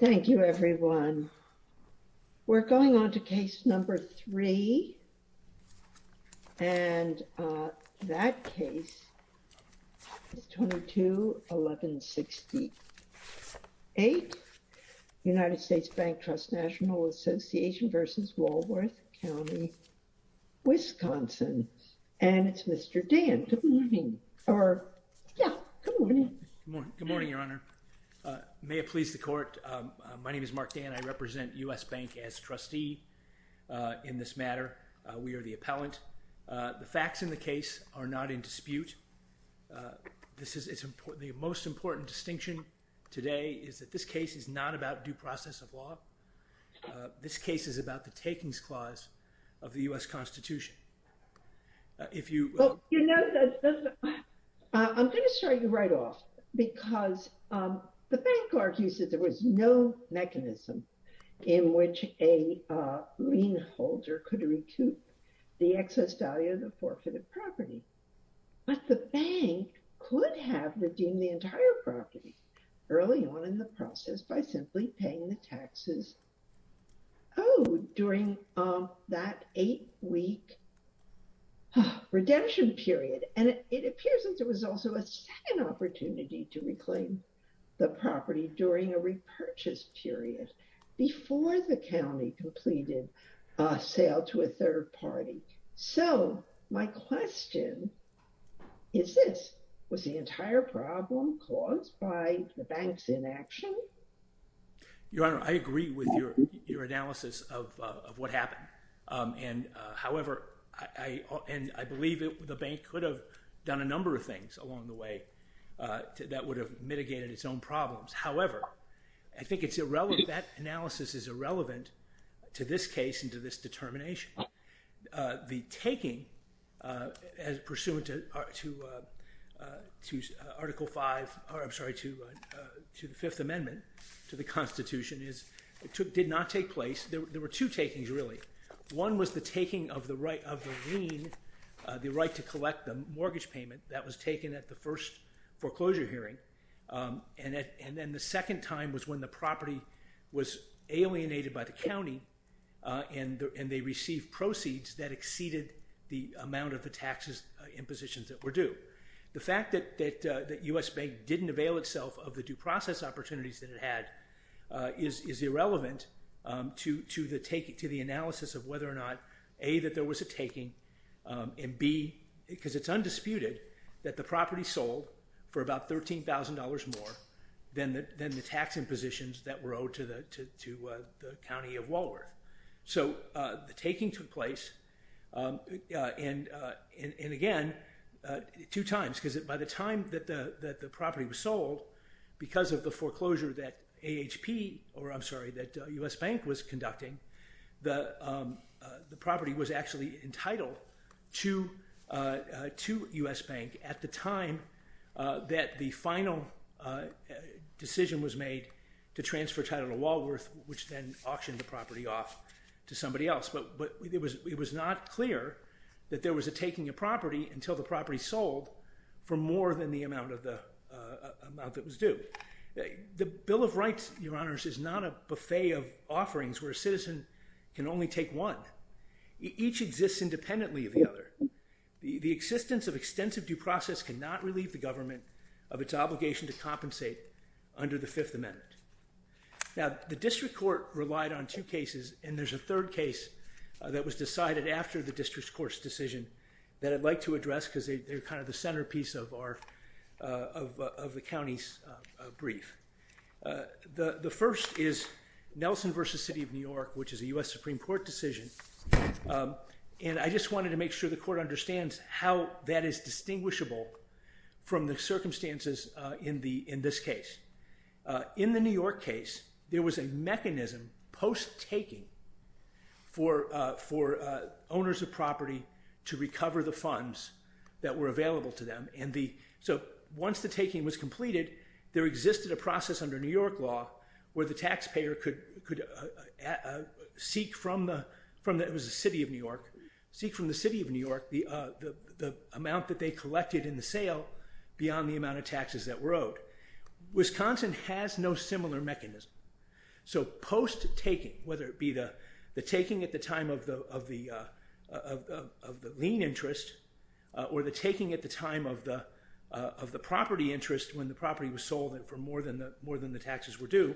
Thank you, everyone. We're going on to case number three, and that case is 22-1168, United States Bank Trust National Association v. Walworth County, Wisconsin. And it's Mr. Dan. Good morning, Your Honor. May it please the court. My name is Mark Dan. I represent U.S. Bank as trustee in this matter. We are the appellant. The facts in the case are not in dispute. This is the most important distinction today is that this case is not about due process of law. This case is about the takings clause of the U.S. Constitution. You know, I'm going to start you right off, because the bank argues that there was no mechanism in which a lien holder could recoup the excess value of the forfeited property. But the bank could have redeemed the entire property early on in the process by simply paying the taxes. Oh, during that eight-week redemption period. And it appears that there was also a second opportunity to reclaim the property during a repurchase period before the county completed a sale to a third party. So my question is this. Was the entire problem caused by the bank's inaction? Your Honor, I agree with your analysis of what happened. And however, I believe the bank could have done a number of things along the way that would have mitigated its own problems. However, I think that analysis is irrelevant to this case and to this determination. The taking pursuant to Article V, I'm sorry, to the Fifth Amendment to the Constitution did not take place. There were two takings, really. One was the taking of the right of the lien, the right to collect the mortgage payment that was taken at the first foreclosure hearing. And then the second time was when the property was alienated by the county and they received proceeds that exceeded the amount of the taxes in positions that were due. The fact that U.S. Bank didn't avail itself of the due process opportunities that it had is irrelevant to the analysis of whether or not, A, that there was a taking, and B, because it's undisputed that the property sold for about $13,000. $13,000 more than the tax in positions that were owed to the county of Walworth. So the taking took place, and again, two times, because by the time that the property was sold, because of the foreclosure that AHP, or I'm sorry, that U.S. Bank was conducting, the property was actually entitled to U.S. Bank at the time that the final decision was made to transfer title to Walworth, which then auctioned the property off to somebody else. But it was not clear that there was a taking of property until the property sold for more than the amount that was due. But the Bill of Rights, Your Honors, is not a buffet of offerings where a citizen can only take one. Each exists independently of the other. The existence of extensive due process cannot relieve the government of its obligation to compensate under the Fifth Amendment. Now, the district court relied on two cases, and there's a third case that was decided after the district court's decision that I'd like to address, because they're kind of the centerpiece of the county's brief. The first is Nelson v. City of New York, which is a U.S. Supreme Court decision, and I just wanted to make sure the court understands how that is distinguishable from the circumstances in this case. In the New York case, there was a mechanism post-taking for owners of property to recover the funds that were available to them. So once the taking was completed, there existed a process under New York law where the taxpayer could seek from the city of New York the amount that they collected in the sale beyond the amount of taxes that were owed. Wisconsin has no similar mechanism. So post-taking, whether it be the taking at the time of the lien interest or the taking at the time of the property interest when the property was sold for more than the taxes were due,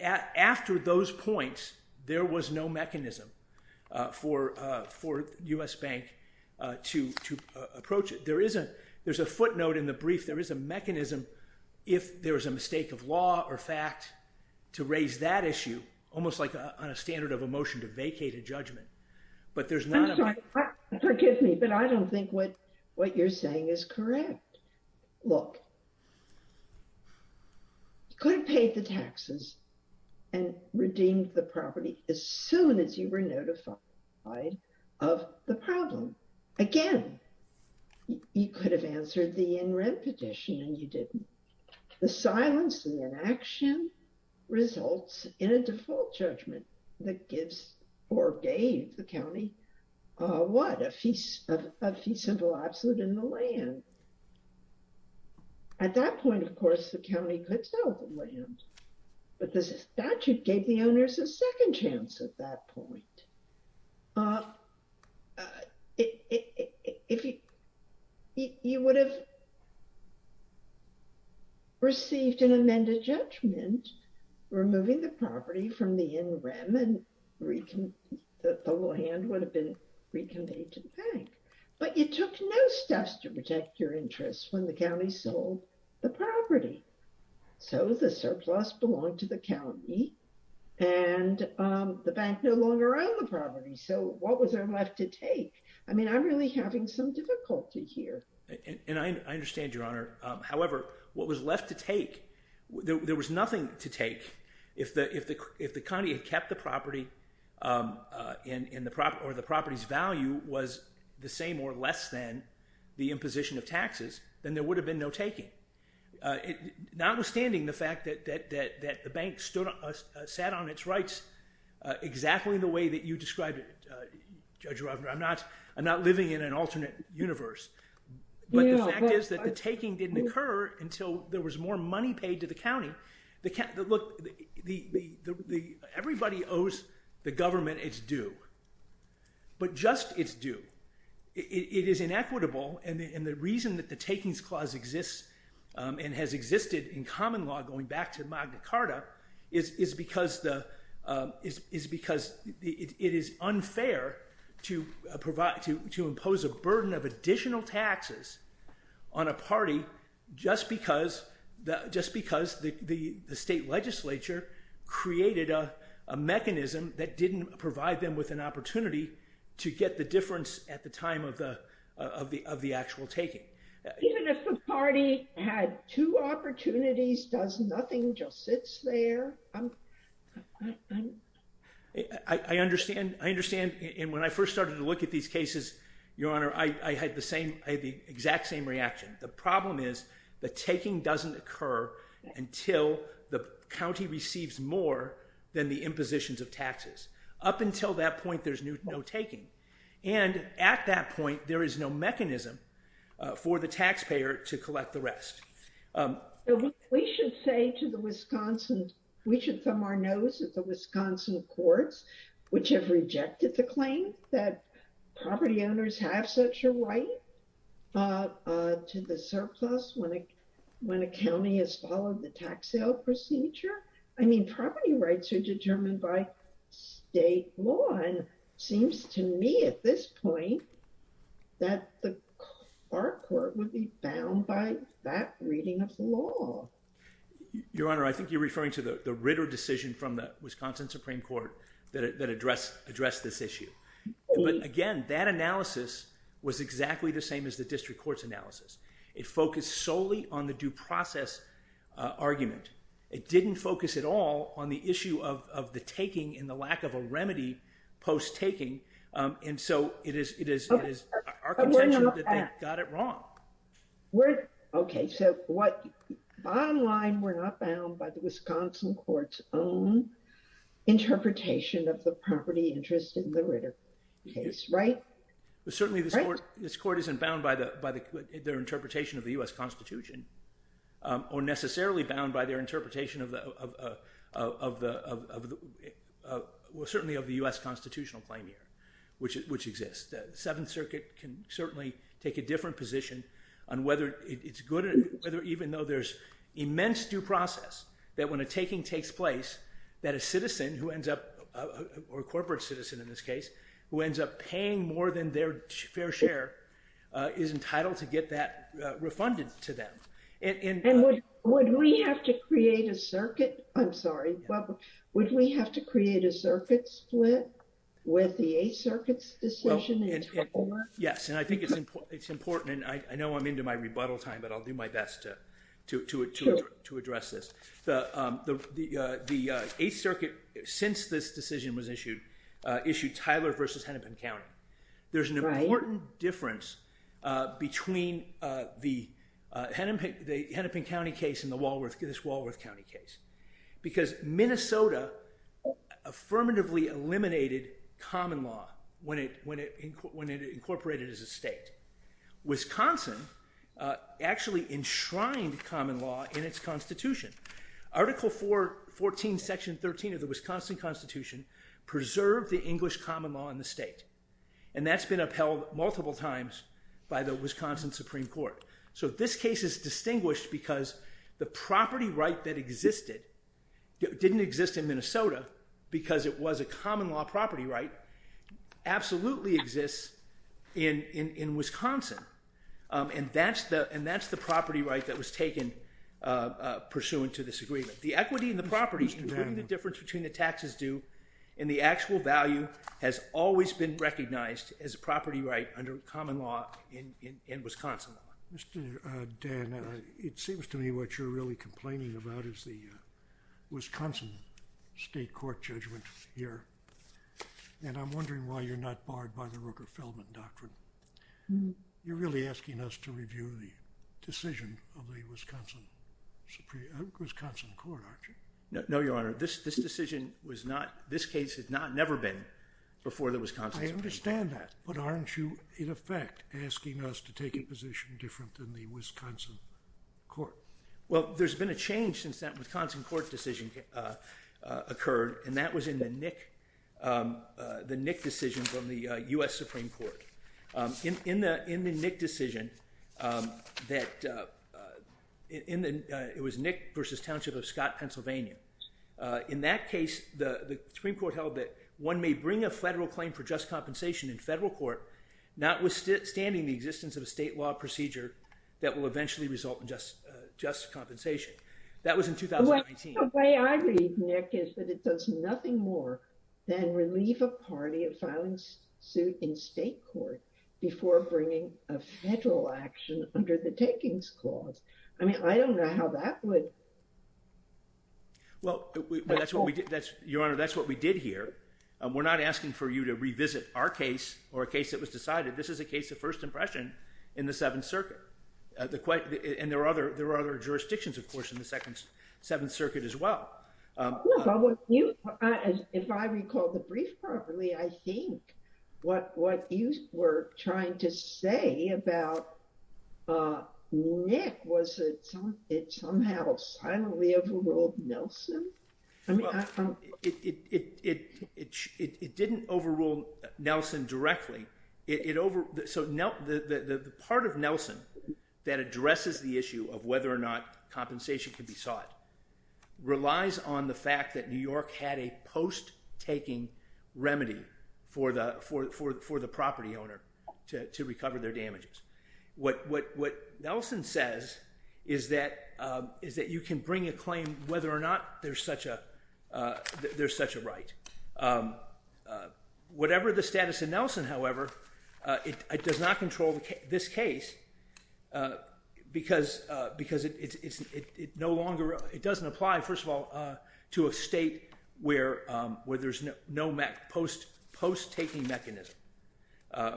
after those points, there was no mechanism for U.S. Bank to approach it. There's a footnote in the brief. There is a mechanism, if there is a mistake of law or fact, to raise that issue, almost like on a standard of a motion to vacate a judgment. I'm sorry, forgive me, but I don't think what you're saying is correct. Look, you could have paid the taxes and redeemed the property as soon as you were notified of the problem. Again, you could have answered the in-rent petition and you didn't. The silence and then action results in a default judgment that gives or gave the county what? A fee simple absolute in the land. At that point, of course, the county could sell the land, but the statute gave the owners a second chance at that point. You would have received an amended judgment, removing the property from the in-rem and the whole hand would have been reconveyed to the bank. But you took no steps to protect your interests when the county sold the property. So the surplus belonged to the county and the bank no longer owned the property. So what was there left to take? I mean, I'm really having some difficulty here. And I understand, Your Honor. However, what was left to take, there was nothing to take if the county had kept the property or the property's value was the same or less than the imposition of taxes, then there would have been no taking. Notwithstanding the fact that the bank sat on its rights exactly the way that you described it, Judge Rovner. I'm not living in an alternate universe. But the fact is that the taking didn't occur until there was more money paid to the county. Everybody owes the government its due, but just its due. It is inequitable, and the reason that the takings clause exists and has existed in common law going back to Magna Carta is because it is unfair to impose a burden of additional taxes on a party just because the state legislature created a mechanism that didn't provide them with an opportunity to get the difference at the time of the actual taking. Even if the party had two opportunities, does nothing, just sits there? I understand. And when I first started to look at these cases, Your Honor, I had the exact same reaction. The problem is the taking doesn't occur until the county receives more than the impositions of taxes. Up until that point, there's no taking. And at that point, there is no mechanism for the taxpayer to collect the rest. We should say to the Wisconsin, we should thumb our nose at the Wisconsin courts, which have rejected the claim that property owners have such a right to the surplus when a county has followed the tax sale procedure. I mean, property rights are determined by state law, and it seems to me at this point that our court would be bound by that reading of the law. Your Honor, I think you're referring to the Ritter decision from the Wisconsin Supreme Court that addressed this issue. But again, that analysis was exactly the same as the district court's analysis. It focused solely on the due process argument. It didn't focus at all on the issue of the taking and the lack of a remedy post-taking. And so it is our contention that they got it wrong. Okay, so bottom line, we're not bound by the Wisconsin court's own interpretation of the property interest in the Ritter case, right? Certainly this court isn't bound by their interpretation of the U.S. Constitution, or necessarily bound by their interpretation of the U.S. Constitutional claim here, which exists. The Seventh Circuit can certainly take a different position on whether it's good, even though there's immense due process, that when a taking takes place, that a citizen who ends up, or a corporate citizen in this case, who ends up paying more than their fair share is entitled to get that refunded to them. And would we have to create a circuit? I'm sorry, would we have to create a circuit split with the Eighth Circuit's decision? Yes, and I think it's important, and I know I'm into my rebuttal time, but I'll do my best to address this. The Eighth Circuit, since this decision was issued, issued Tyler v. Hennepin County. There's an important difference between the Hennepin County case and this Walworth County case, because Minnesota affirmatively eliminated common law when it incorporated as a state. Wisconsin actually enshrined common law in its Constitution. Article 14, Section 13 of the Wisconsin Constitution preserved the English common law in the state, and that's been upheld multiple times by the Wisconsin Supreme Court. So this case is distinguished because the property right that existed didn't exist in Minnesota, because it was a common law property right, absolutely exists in Wisconsin. And that's the property right that was taken pursuant to this agreement. The equity in the property, including the difference between the taxes due and the actual value, has always been recognized as a property right under common law in Wisconsin. Mr. Dan, it seems to me what you're really complaining about is the Wisconsin State Court judgment here, and I'm wondering why you're not barred by the Rooker-Feldman Doctrine. You're really asking us to review the decision of the Wisconsin Supreme Court, aren't you? No, Your Honor. This decision was not, this case had never been before the Wisconsin Supreme Court. I understand that, but aren't you, in effect, asking us to take a position different than the Wisconsin Court? Well, there's been a change since that Wisconsin Court decision occurred, and that was in the Nick decision from the U.S. Supreme Court. In the Nick decision, it was Nick v. Township of Scott, Pennsylvania. In that case, the Supreme Court held that one may bring a federal claim for just compensation in federal court, notwithstanding the existence of a state law procedure that will eventually result in just compensation. That was in 2019. The way I read Nick is that it does nothing more than relieve a party of filing suit in state court before bringing a federal action under the Takings Clause. I mean, I don't know how that would... Well, Your Honor, that's what we did here. We're not asking for you to revisit our case or a case that was decided. This is a case of first impression in the Seventh Circuit. And there are other jurisdictions, of course, in the Seventh Circuit as well. If I recall the brief properly, I think what you were trying to say about Nick was that it somehow silently overruled Nelson. Well, it didn't overrule Nelson directly. So the part of Nelson that addresses the issue of whether or not compensation could be sought relies on the fact that New York had a post-taking remedy for the property owner to recover their damages. What Nelson says is that you can bring a claim whether or not there's such a right. Whatever the status of Nelson, however, it does not control this case because it doesn't apply, first of all, to a state where there's no post-taking mechanism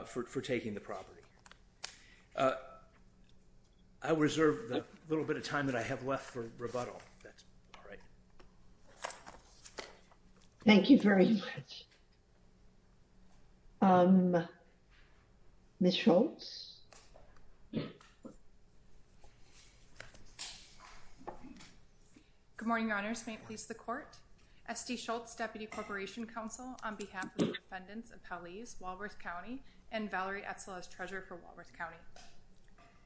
for taking the property. I reserve the little bit of time that I have left for rebuttal, if that's all right. Thank you very much. Ms. Schultz? Good morning, Your Honors. May it please the Court? S.D. Schultz, Deputy Corporation Counsel, on behalf of the defendants of Paliz, Walworth County, and Valerie Etzel as Treasurer for Walworth County.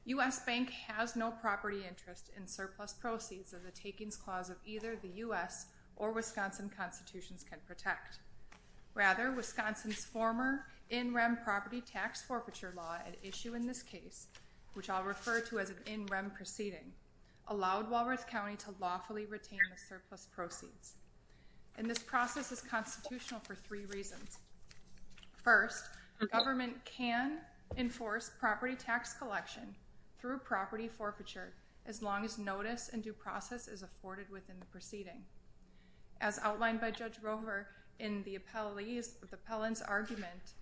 U.S. Bank has no property interest in surplus proceeds of the takings clause of either the U.S. or Wisconsin constitutions can protect. Rather, Wisconsin's former in-rem property tax forfeiture law at issue in this case, which I'll refer to as an in-rem proceeding, allowed Walworth County to lawfully retain the surplus proceeds. And this process is constitutional for three reasons. First, the government can enforce property tax collection through property forfeiture as long as notice and due process is afforded within the proceeding. As outlined by Judge Rover in the appellant's argument,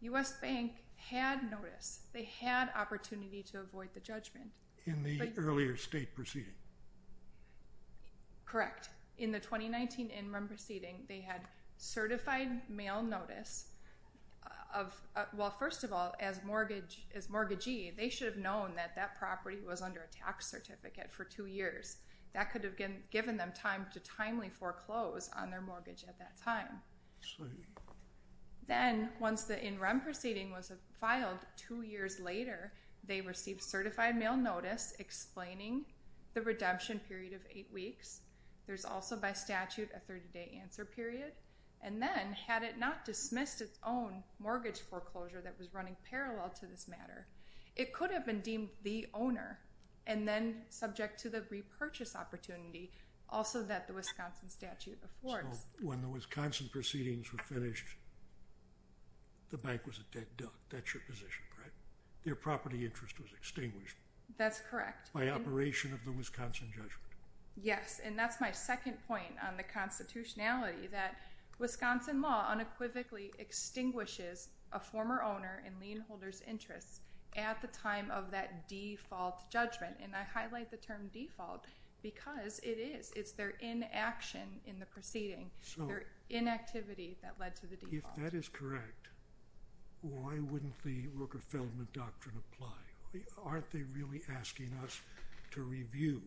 U.S. Bank had notice. They had opportunity to avoid the judgment. In the earlier state proceeding? Correct. In the 2019 in-rem proceeding, they had certified mail notice of, well, first of all, as mortgagee, they should have known that that property was under a tax certificate for two years. That could have given them time to timely foreclose on their mortgage at that time. Then, once the in-rem proceeding was filed two years later, they received certified mail notice explaining the redemption period of eight weeks. There's also, by statute, a 30-day answer period. And then, had it not dismissed its own mortgage foreclosure that was running parallel to this matter, it could have been deemed the owner and then subject to the repurchase opportunity, also that the Wisconsin statute affords. So, when the Wisconsin proceedings were finished, the bank was a dead duck. That's your position, right? Their property interest was extinguished. That's correct. By operation of the Wisconsin judgment. Yes, and that's my second point on the constitutionality, that Wisconsin law unequivocally extinguishes a former owner and lien holder's interest at the time of that default judgment. And I highlight the term default because it is. It's their inaction in the proceeding, their inactivity that led to the default. If that is correct, why wouldn't the Rooker-Feldman doctrine apply? Aren't they really asking us to review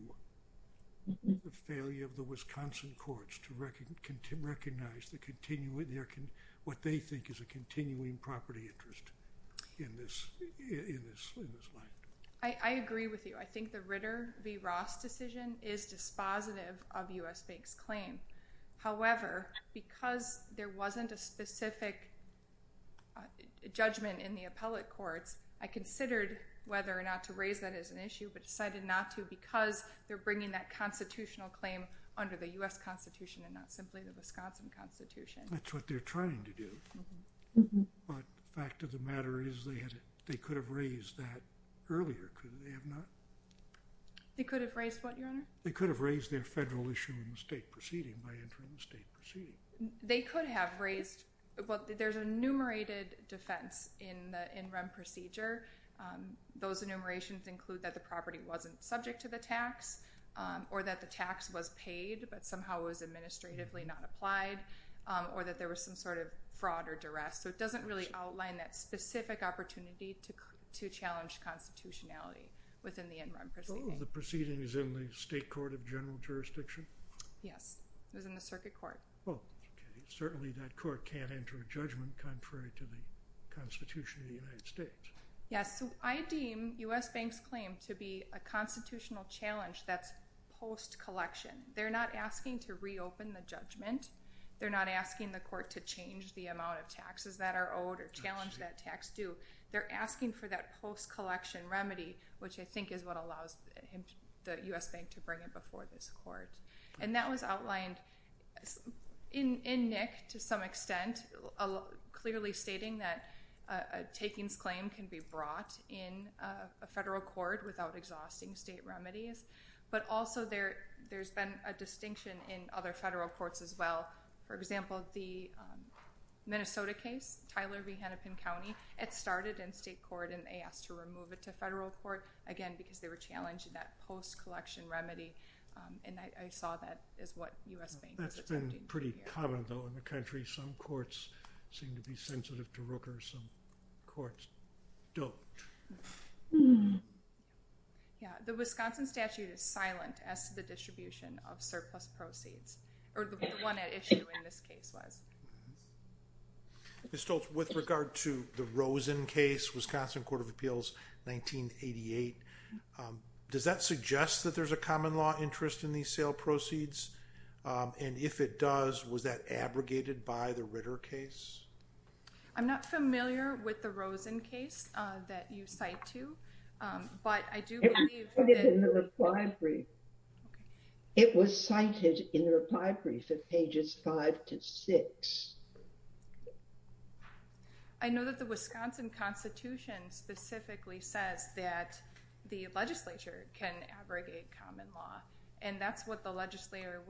the failure of the Wisconsin courts to recognize what they think is a continuing property interest in this land? I agree with you. I think the Ritter v. Ross decision is dispositive of U.S. Bank's claim. However, because there wasn't a specific judgment in the appellate courts, I considered whether or not to raise that as an issue, but decided not to because they're bringing that constitutional claim under the U.S. Constitution and not simply the Wisconsin Constitution. That's what they're trying to do. But the fact of the matter is they could have raised that earlier, could they have not? They could have raised what, Your Honor? They could have raised their federal issue in the state proceeding by entering the state proceeding. They could have raised, well, there's a enumerated defense in the in-run procedure. Those enumerations include that the property wasn't subject to the tax or that the tax was paid but somehow was administratively not applied or that there was some sort of fraud or duress. So it doesn't really outline that specific opportunity to challenge constitutionality within the in-run proceeding. Oh, the proceeding is in the state court of general jurisdiction? Yes, it was in the circuit court. Well, certainly that court can't enter a judgment contrary to the Constitution of the United States. Yes, so I deem U.S. Bank's claim to be a constitutional challenge that's post-collection. They're not asking to reopen the judgment. They're not asking the court to change the amount of taxes that are owed or challenge that tax due. They're asking for that post-collection remedy, which I think is what allows the U.S. Bank to bring it before this court. And that was outlined in NIC to some extent, clearly stating that a takings claim can be brought in a federal court without exhausting state remedies. But also there's been a distinction in other federal courts as well. For example, the Minnesota case, Tyler v. Hennepin County, it started in state court and they asked to remove it to federal court, again, because they were challenging that post-collection remedy. And I saw that as what U.S. Bank was attempting to do. That's been pretty common, though, in the country. Some courts seem to be sensitive to Rooker. Some courts don't. Yeah, the Wisconsin statute is silent as to the distribution of surplus proceeds, or the one at issue in this case was. Ms. Stoltz, with regard to the Rosen case, Wisconsin Court of Appeals 1988, does that suggest that there's a common law interest in these sale proceeds? And if it does, was that abrogated by the Ritter case? I'm not familiar with the Rosen case that you cite to, but I do believe that... It was cited in the reply brief. It was cited in the reply brief at pages 5 to 6. I know that the Wisconsin Constitution specifically says that the legislature can abrogate common law. And that's what the legislature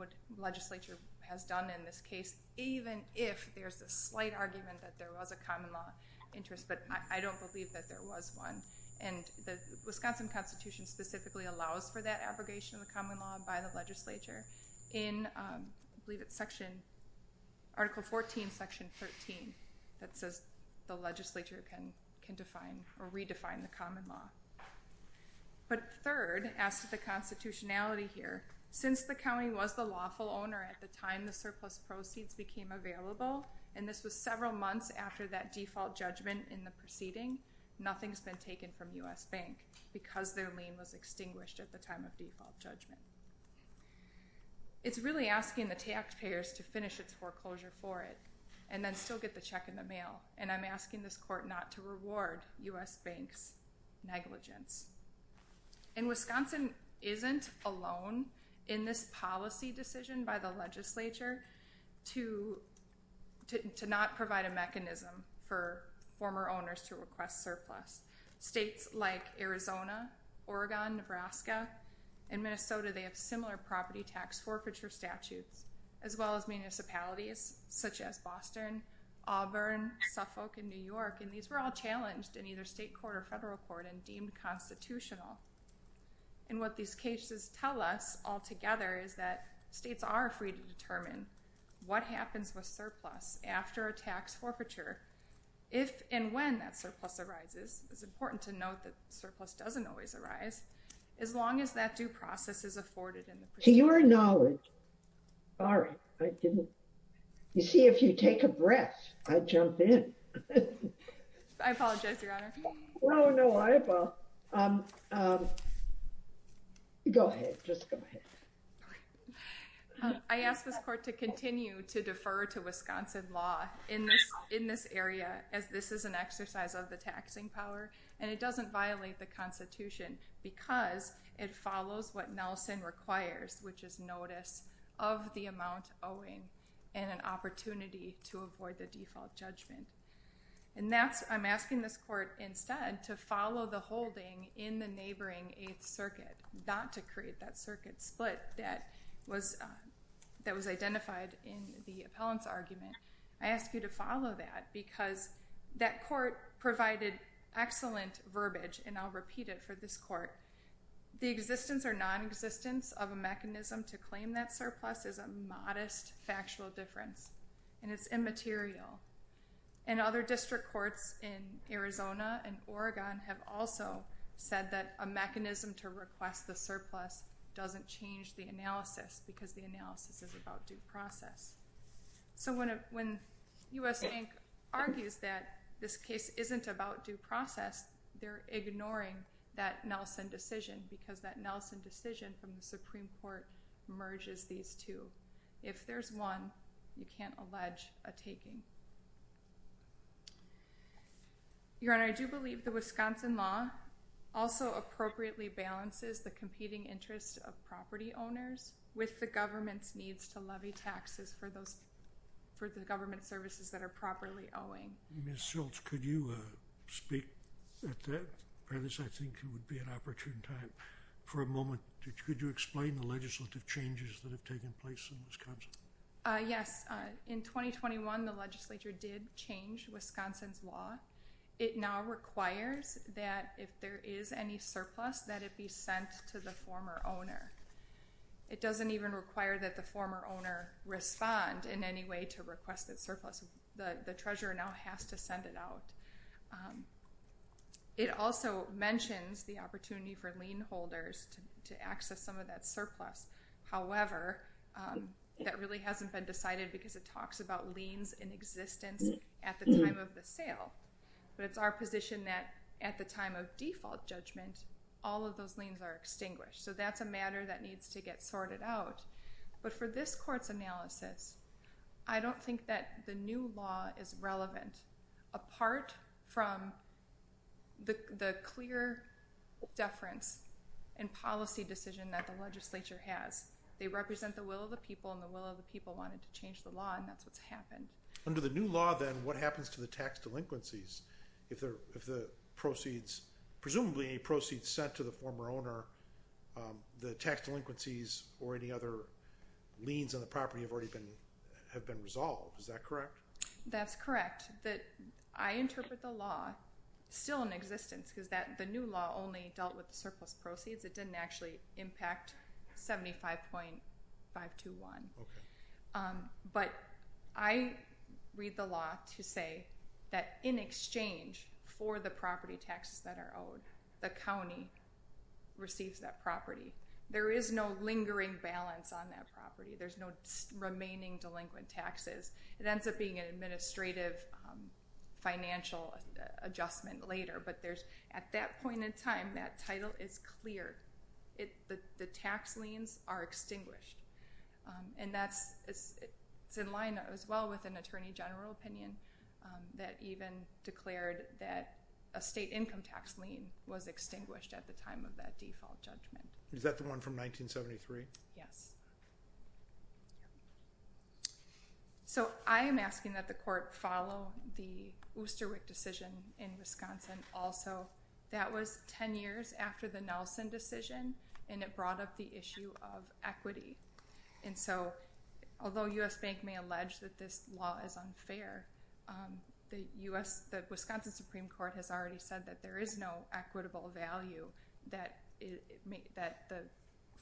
has done in this case, even if there's a slight argument that there was a common law interest. But I don't believe that there was one. And the Wisconsin Constitution specifically allows for that abrogation of the common law by the legislature. I believe it's Article 14, Section 13 that says the legislature can redefine the common law. But third, as to the constitutionality here, since the county was the lawful owner at the time the surplus proceeds became available, and this was several months after that default judgment in the proceeding, nothing's been taken from U.S. Bank because their lien was extinguished at the time of default judgment. It's really asking the taxpayers to finish its foreclosure for it, and then still get the check in the mail. And I'm asking this court not to reward U.S. Bank's negligence. And Wisconsin isn't alone in this policy decision by the legislature to not provide a mechanism for former owners to request surplus. States like Arizona, Oregon, Nebraska, and Minnesota, they have similar property tax forfeiture statutes, as well as municipalities such as Boston, Auburn, Suffolk, and New York. And these were all challenged in either state court or federal court and deemed constitutional. And what these cases tell us altogether is that states are free to determine what happens with surplus after a tax forfeiture, if and when that surplus arises. It's important to note that surplus doesn't always arise, as long as that due process is afforded. To your knowledge. All right. You see, if you take a breath, I jump in. I apologize, Your Honor. Oh, no, I apologize. Go ahead. Just go ahead. I ask this court to continue to defer to Wisconsin law in this area, as this is an exercise of the taxing power. And it doesn't violate the Constitution because it follows what Nelson requires, which is notice of the amount owing and an opportunity to avoid the default judgment. And that's, I'm asking this court instead to follow the holding in the neighboring Eighth Circuit, not to create that circuit split that was identified in the appellant's argument. I ask you to follow that because that court provided excellent verbiage, and I'll repeat it for this court. The existence or nonexistence of a mechanism to claim that surplus is a modest factual difference, and it's immaterial. And other district courts in Arizona and Oregon have also said that a mechanism to request the surplus doesn't change the analysis because the analysis is about due process. So when U.S. Bank argues that this case isn't about due process, they're ignoring that Nelson decision because that Nelson decision from the Supreme Court merges these two. If there's one, you can't allege a taking. Your Honor, I do believe the Wisconsin law also appropriately balances the competing interests of property owners with the government's needs to levy taxes for the government services that are properly owing. Ms. Schultz, could you speak at that premise? I think it would be an opportune time for a moment. Could you explain the legislative changes that have taken place in Wisconsin? Yes. In 2021, the legislature did change Wisconsin's law. It now requires that if there is any surplus, that it be sent to the former owner. It doesn't even require that the former owner respond in any way to request that surplus. The treasurer now has to send it out. It also mentions the opportunity for lien holders to access some of that surplus. However, that really hasn't been decided because it talks about liens in existence at the time of the sale. But it's our position that at the time of default judgment, all of those liens are extinguished. So that's a matter that needs to get sorted out. But for this court's analysis, I don't think that the new law is relevant, apart from the clear deference and policy decision that the legislature has. They represent the will of the people, and the will of the people wanted to change the law, and that's what's happened. Under the new law, then, what happens to the tax delinquencies? If the proceeds, presumably any proceeds sent to the former owner, the tax delinquencies or any other liens on the property have already been resolved. Is that correct? That's correct. But I interpret the law still in existence because the new law only dealt with the surplus proceeds. It didn't actually impact 75.521. Okay. But I read the law to say that in exchange for the property taxes that are owed, the county receives that property. There is no lingering balance on that property. There's no remaining delinquent taxes. It ends up being an administrative financial adjustment later. But at that point in time, that title is clear. The tax liens are extinguished. And that's in line as well with an attorney general opinion that even declared that a state income tax lien was extinguished at the time of that default judgment. Is that the one from 1973? Yes. So I am asking that the court follow the Oosterwik decision in Wisconsin also. That was 10 years after the Nelson decision, and it brought up the issue of equity. And so although U.S. Bank may allege that this law is unfair, the Wisconsin Supreme Court has already said that there is no equitable value that the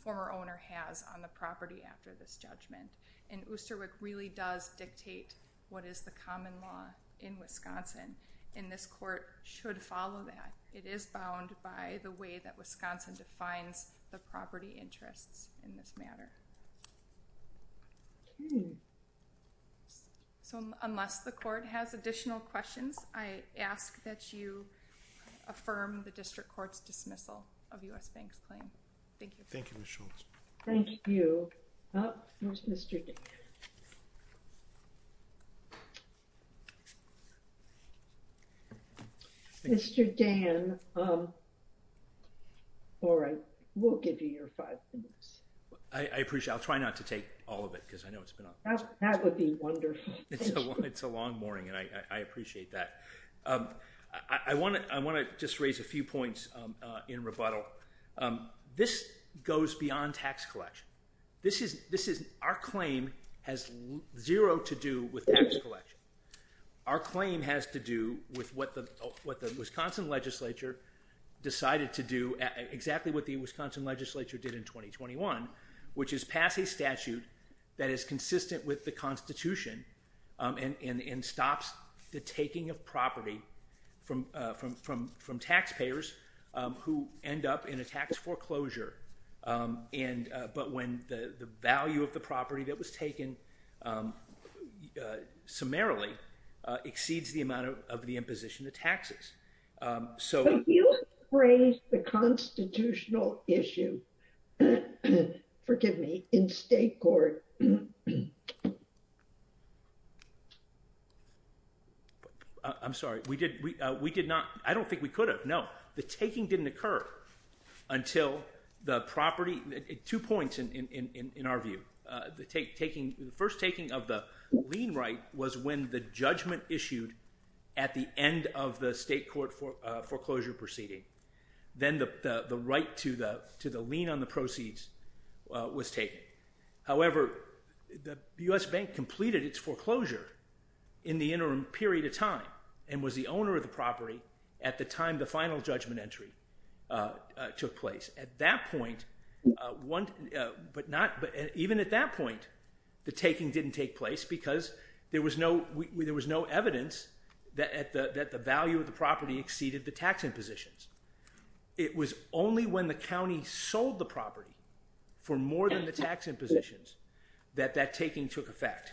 former owner has on the property after this judgment. And Oosterwik really does dictate what is the common law in Wisconsin, and this court should follow that. It is bound by the way that Wisconsin defines the property interests in this matter. So unless the court has additional questions, I ask that you affirm the district court's dismissal of U.S. Bank's claim. Thank you. Thank you, Ms. Scholz. Thank you. Oh, where's Mr. Dan? Mr. Dan, all right, we'll give you your five minutes. I appreciate it. I'll try not to take all of it because I know it's been on. That would be wonderful. It's a long morning, and I appreciate that. I want to just raise a few points in rebuttal. This goes beyond tax collection. Our claim has zero to do with tax collection. Our claim has to do with what the Wisconsin legislature decided to do, exactly what the Wisconsin legislature did in 2021, which is pass a statute that is consistent with the Constitution and stops the taking of property from taxpayers who end up in a tax foreclosure. But when the value of the property that was taken summarily exceeds the amount of the imposition of taxes. So you raised the constitutional issue, forgive me, in state court. I'm sorry. We did not. I don't think we could have. No, the taking didn't occur until the property, two points in our view. The first taking of the lien right was when the judgment issued at the end of the state court foreclosure proceeding. Then the right to the lien on the proceeds was taken. However, the U.S. Bank completed its foreclosure in the interim period of time and was the owner of the property at the time the final judgment entry took place. At that point, even at that point, the taking didn't take place because there was no evidence that the value of the property exceeded the tax impositions. It was only when the county sold the property for more than the tax impositions that that taking took effect.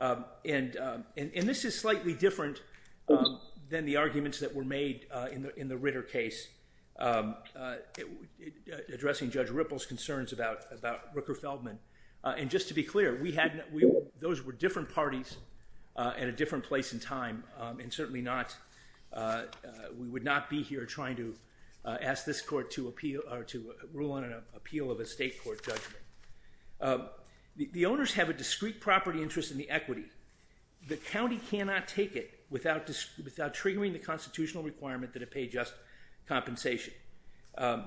And this is slightly different than the arguments that were made in the Ritter case addressing Judge Ripple's concerns about Rooker Feldman. And just to be clear, those were different parties at a different place in time, and certainly we would not be here trying to ask this court to rule on an appeal of a state court judgment. The owners have a discrete property interest in the equity. The county cannot take it without triggering the constitutional requirement that it pay just compensation. And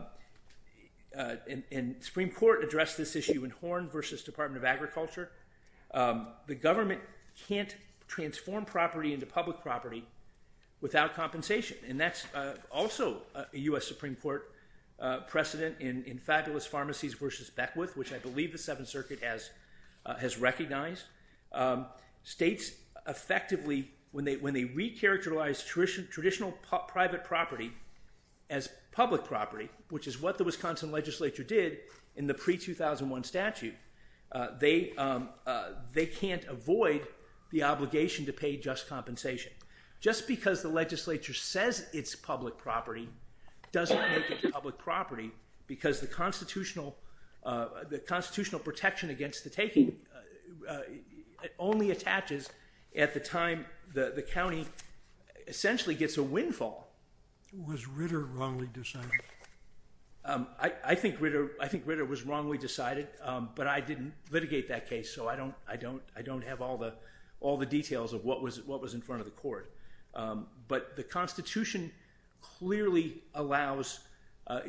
the Supreme Court addressed this issue in Horn v. Department of Agriculture. The government can't transform property into public property without compensation, and that's also a U.S. Supreme Court precedent in Fabulous Pharmacies v. Beckwith, which I believe the Seventh Circuit has recognized. States effectively, when they re-characterize traditional private property as public property, which is what the Wisconsin legislature did in the pre-2001 statute, they can't avoid the obligation to pay just compensation. Just because the legislature says it's public property doesn't make it public property because the constitutional protection against the taking only attaches at the time the county essentially gets a windfall. Was Ritter wrongly decided? I think Ritter was wrongly decided, but I didn't litigate that case, so I don't have all the details of what was in front of the court. But the Constitution clearly allows—the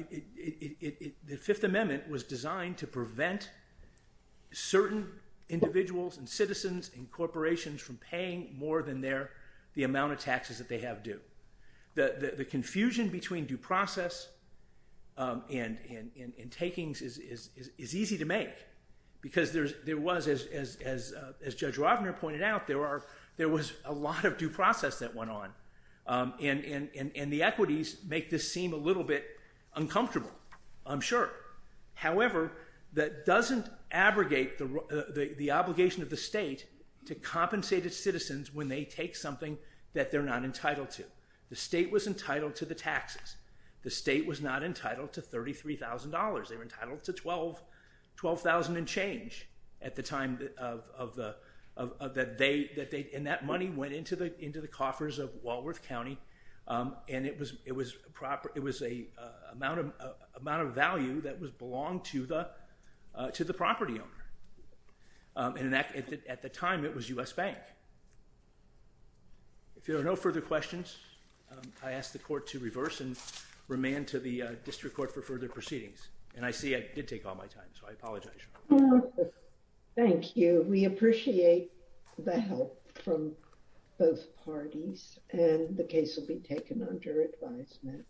Fifth Amendment was designed to prevent certain individuals and citizens and corporations from paying more than the amount of taxes that they have due. The confusion between due process and takings is easy to make because there was, as Judge Rovner pointed out, there was a lot of due process that went on, and the equities make this seem a little bit uncomfortable, I'm sure. However, that doesn't abrogate the obligation of the state to compensate its citizens when they take something that they're not entitled to. The state was entitled to the taxes. The state was not entitled to $33,000. They were entitled to $12,000 and change at the time of the—and that money went into the coffers of Walworth County, and it was an amount of value that belonged to the property owner. At the time, it was U.S. Bank. If there are no further questions, I ask the court to reverse and remand to the district court for further proceedings. And I see I did take all my time, so I apologize. Thank you. We appreciate the help from both parties, and the case will be taken under advisement.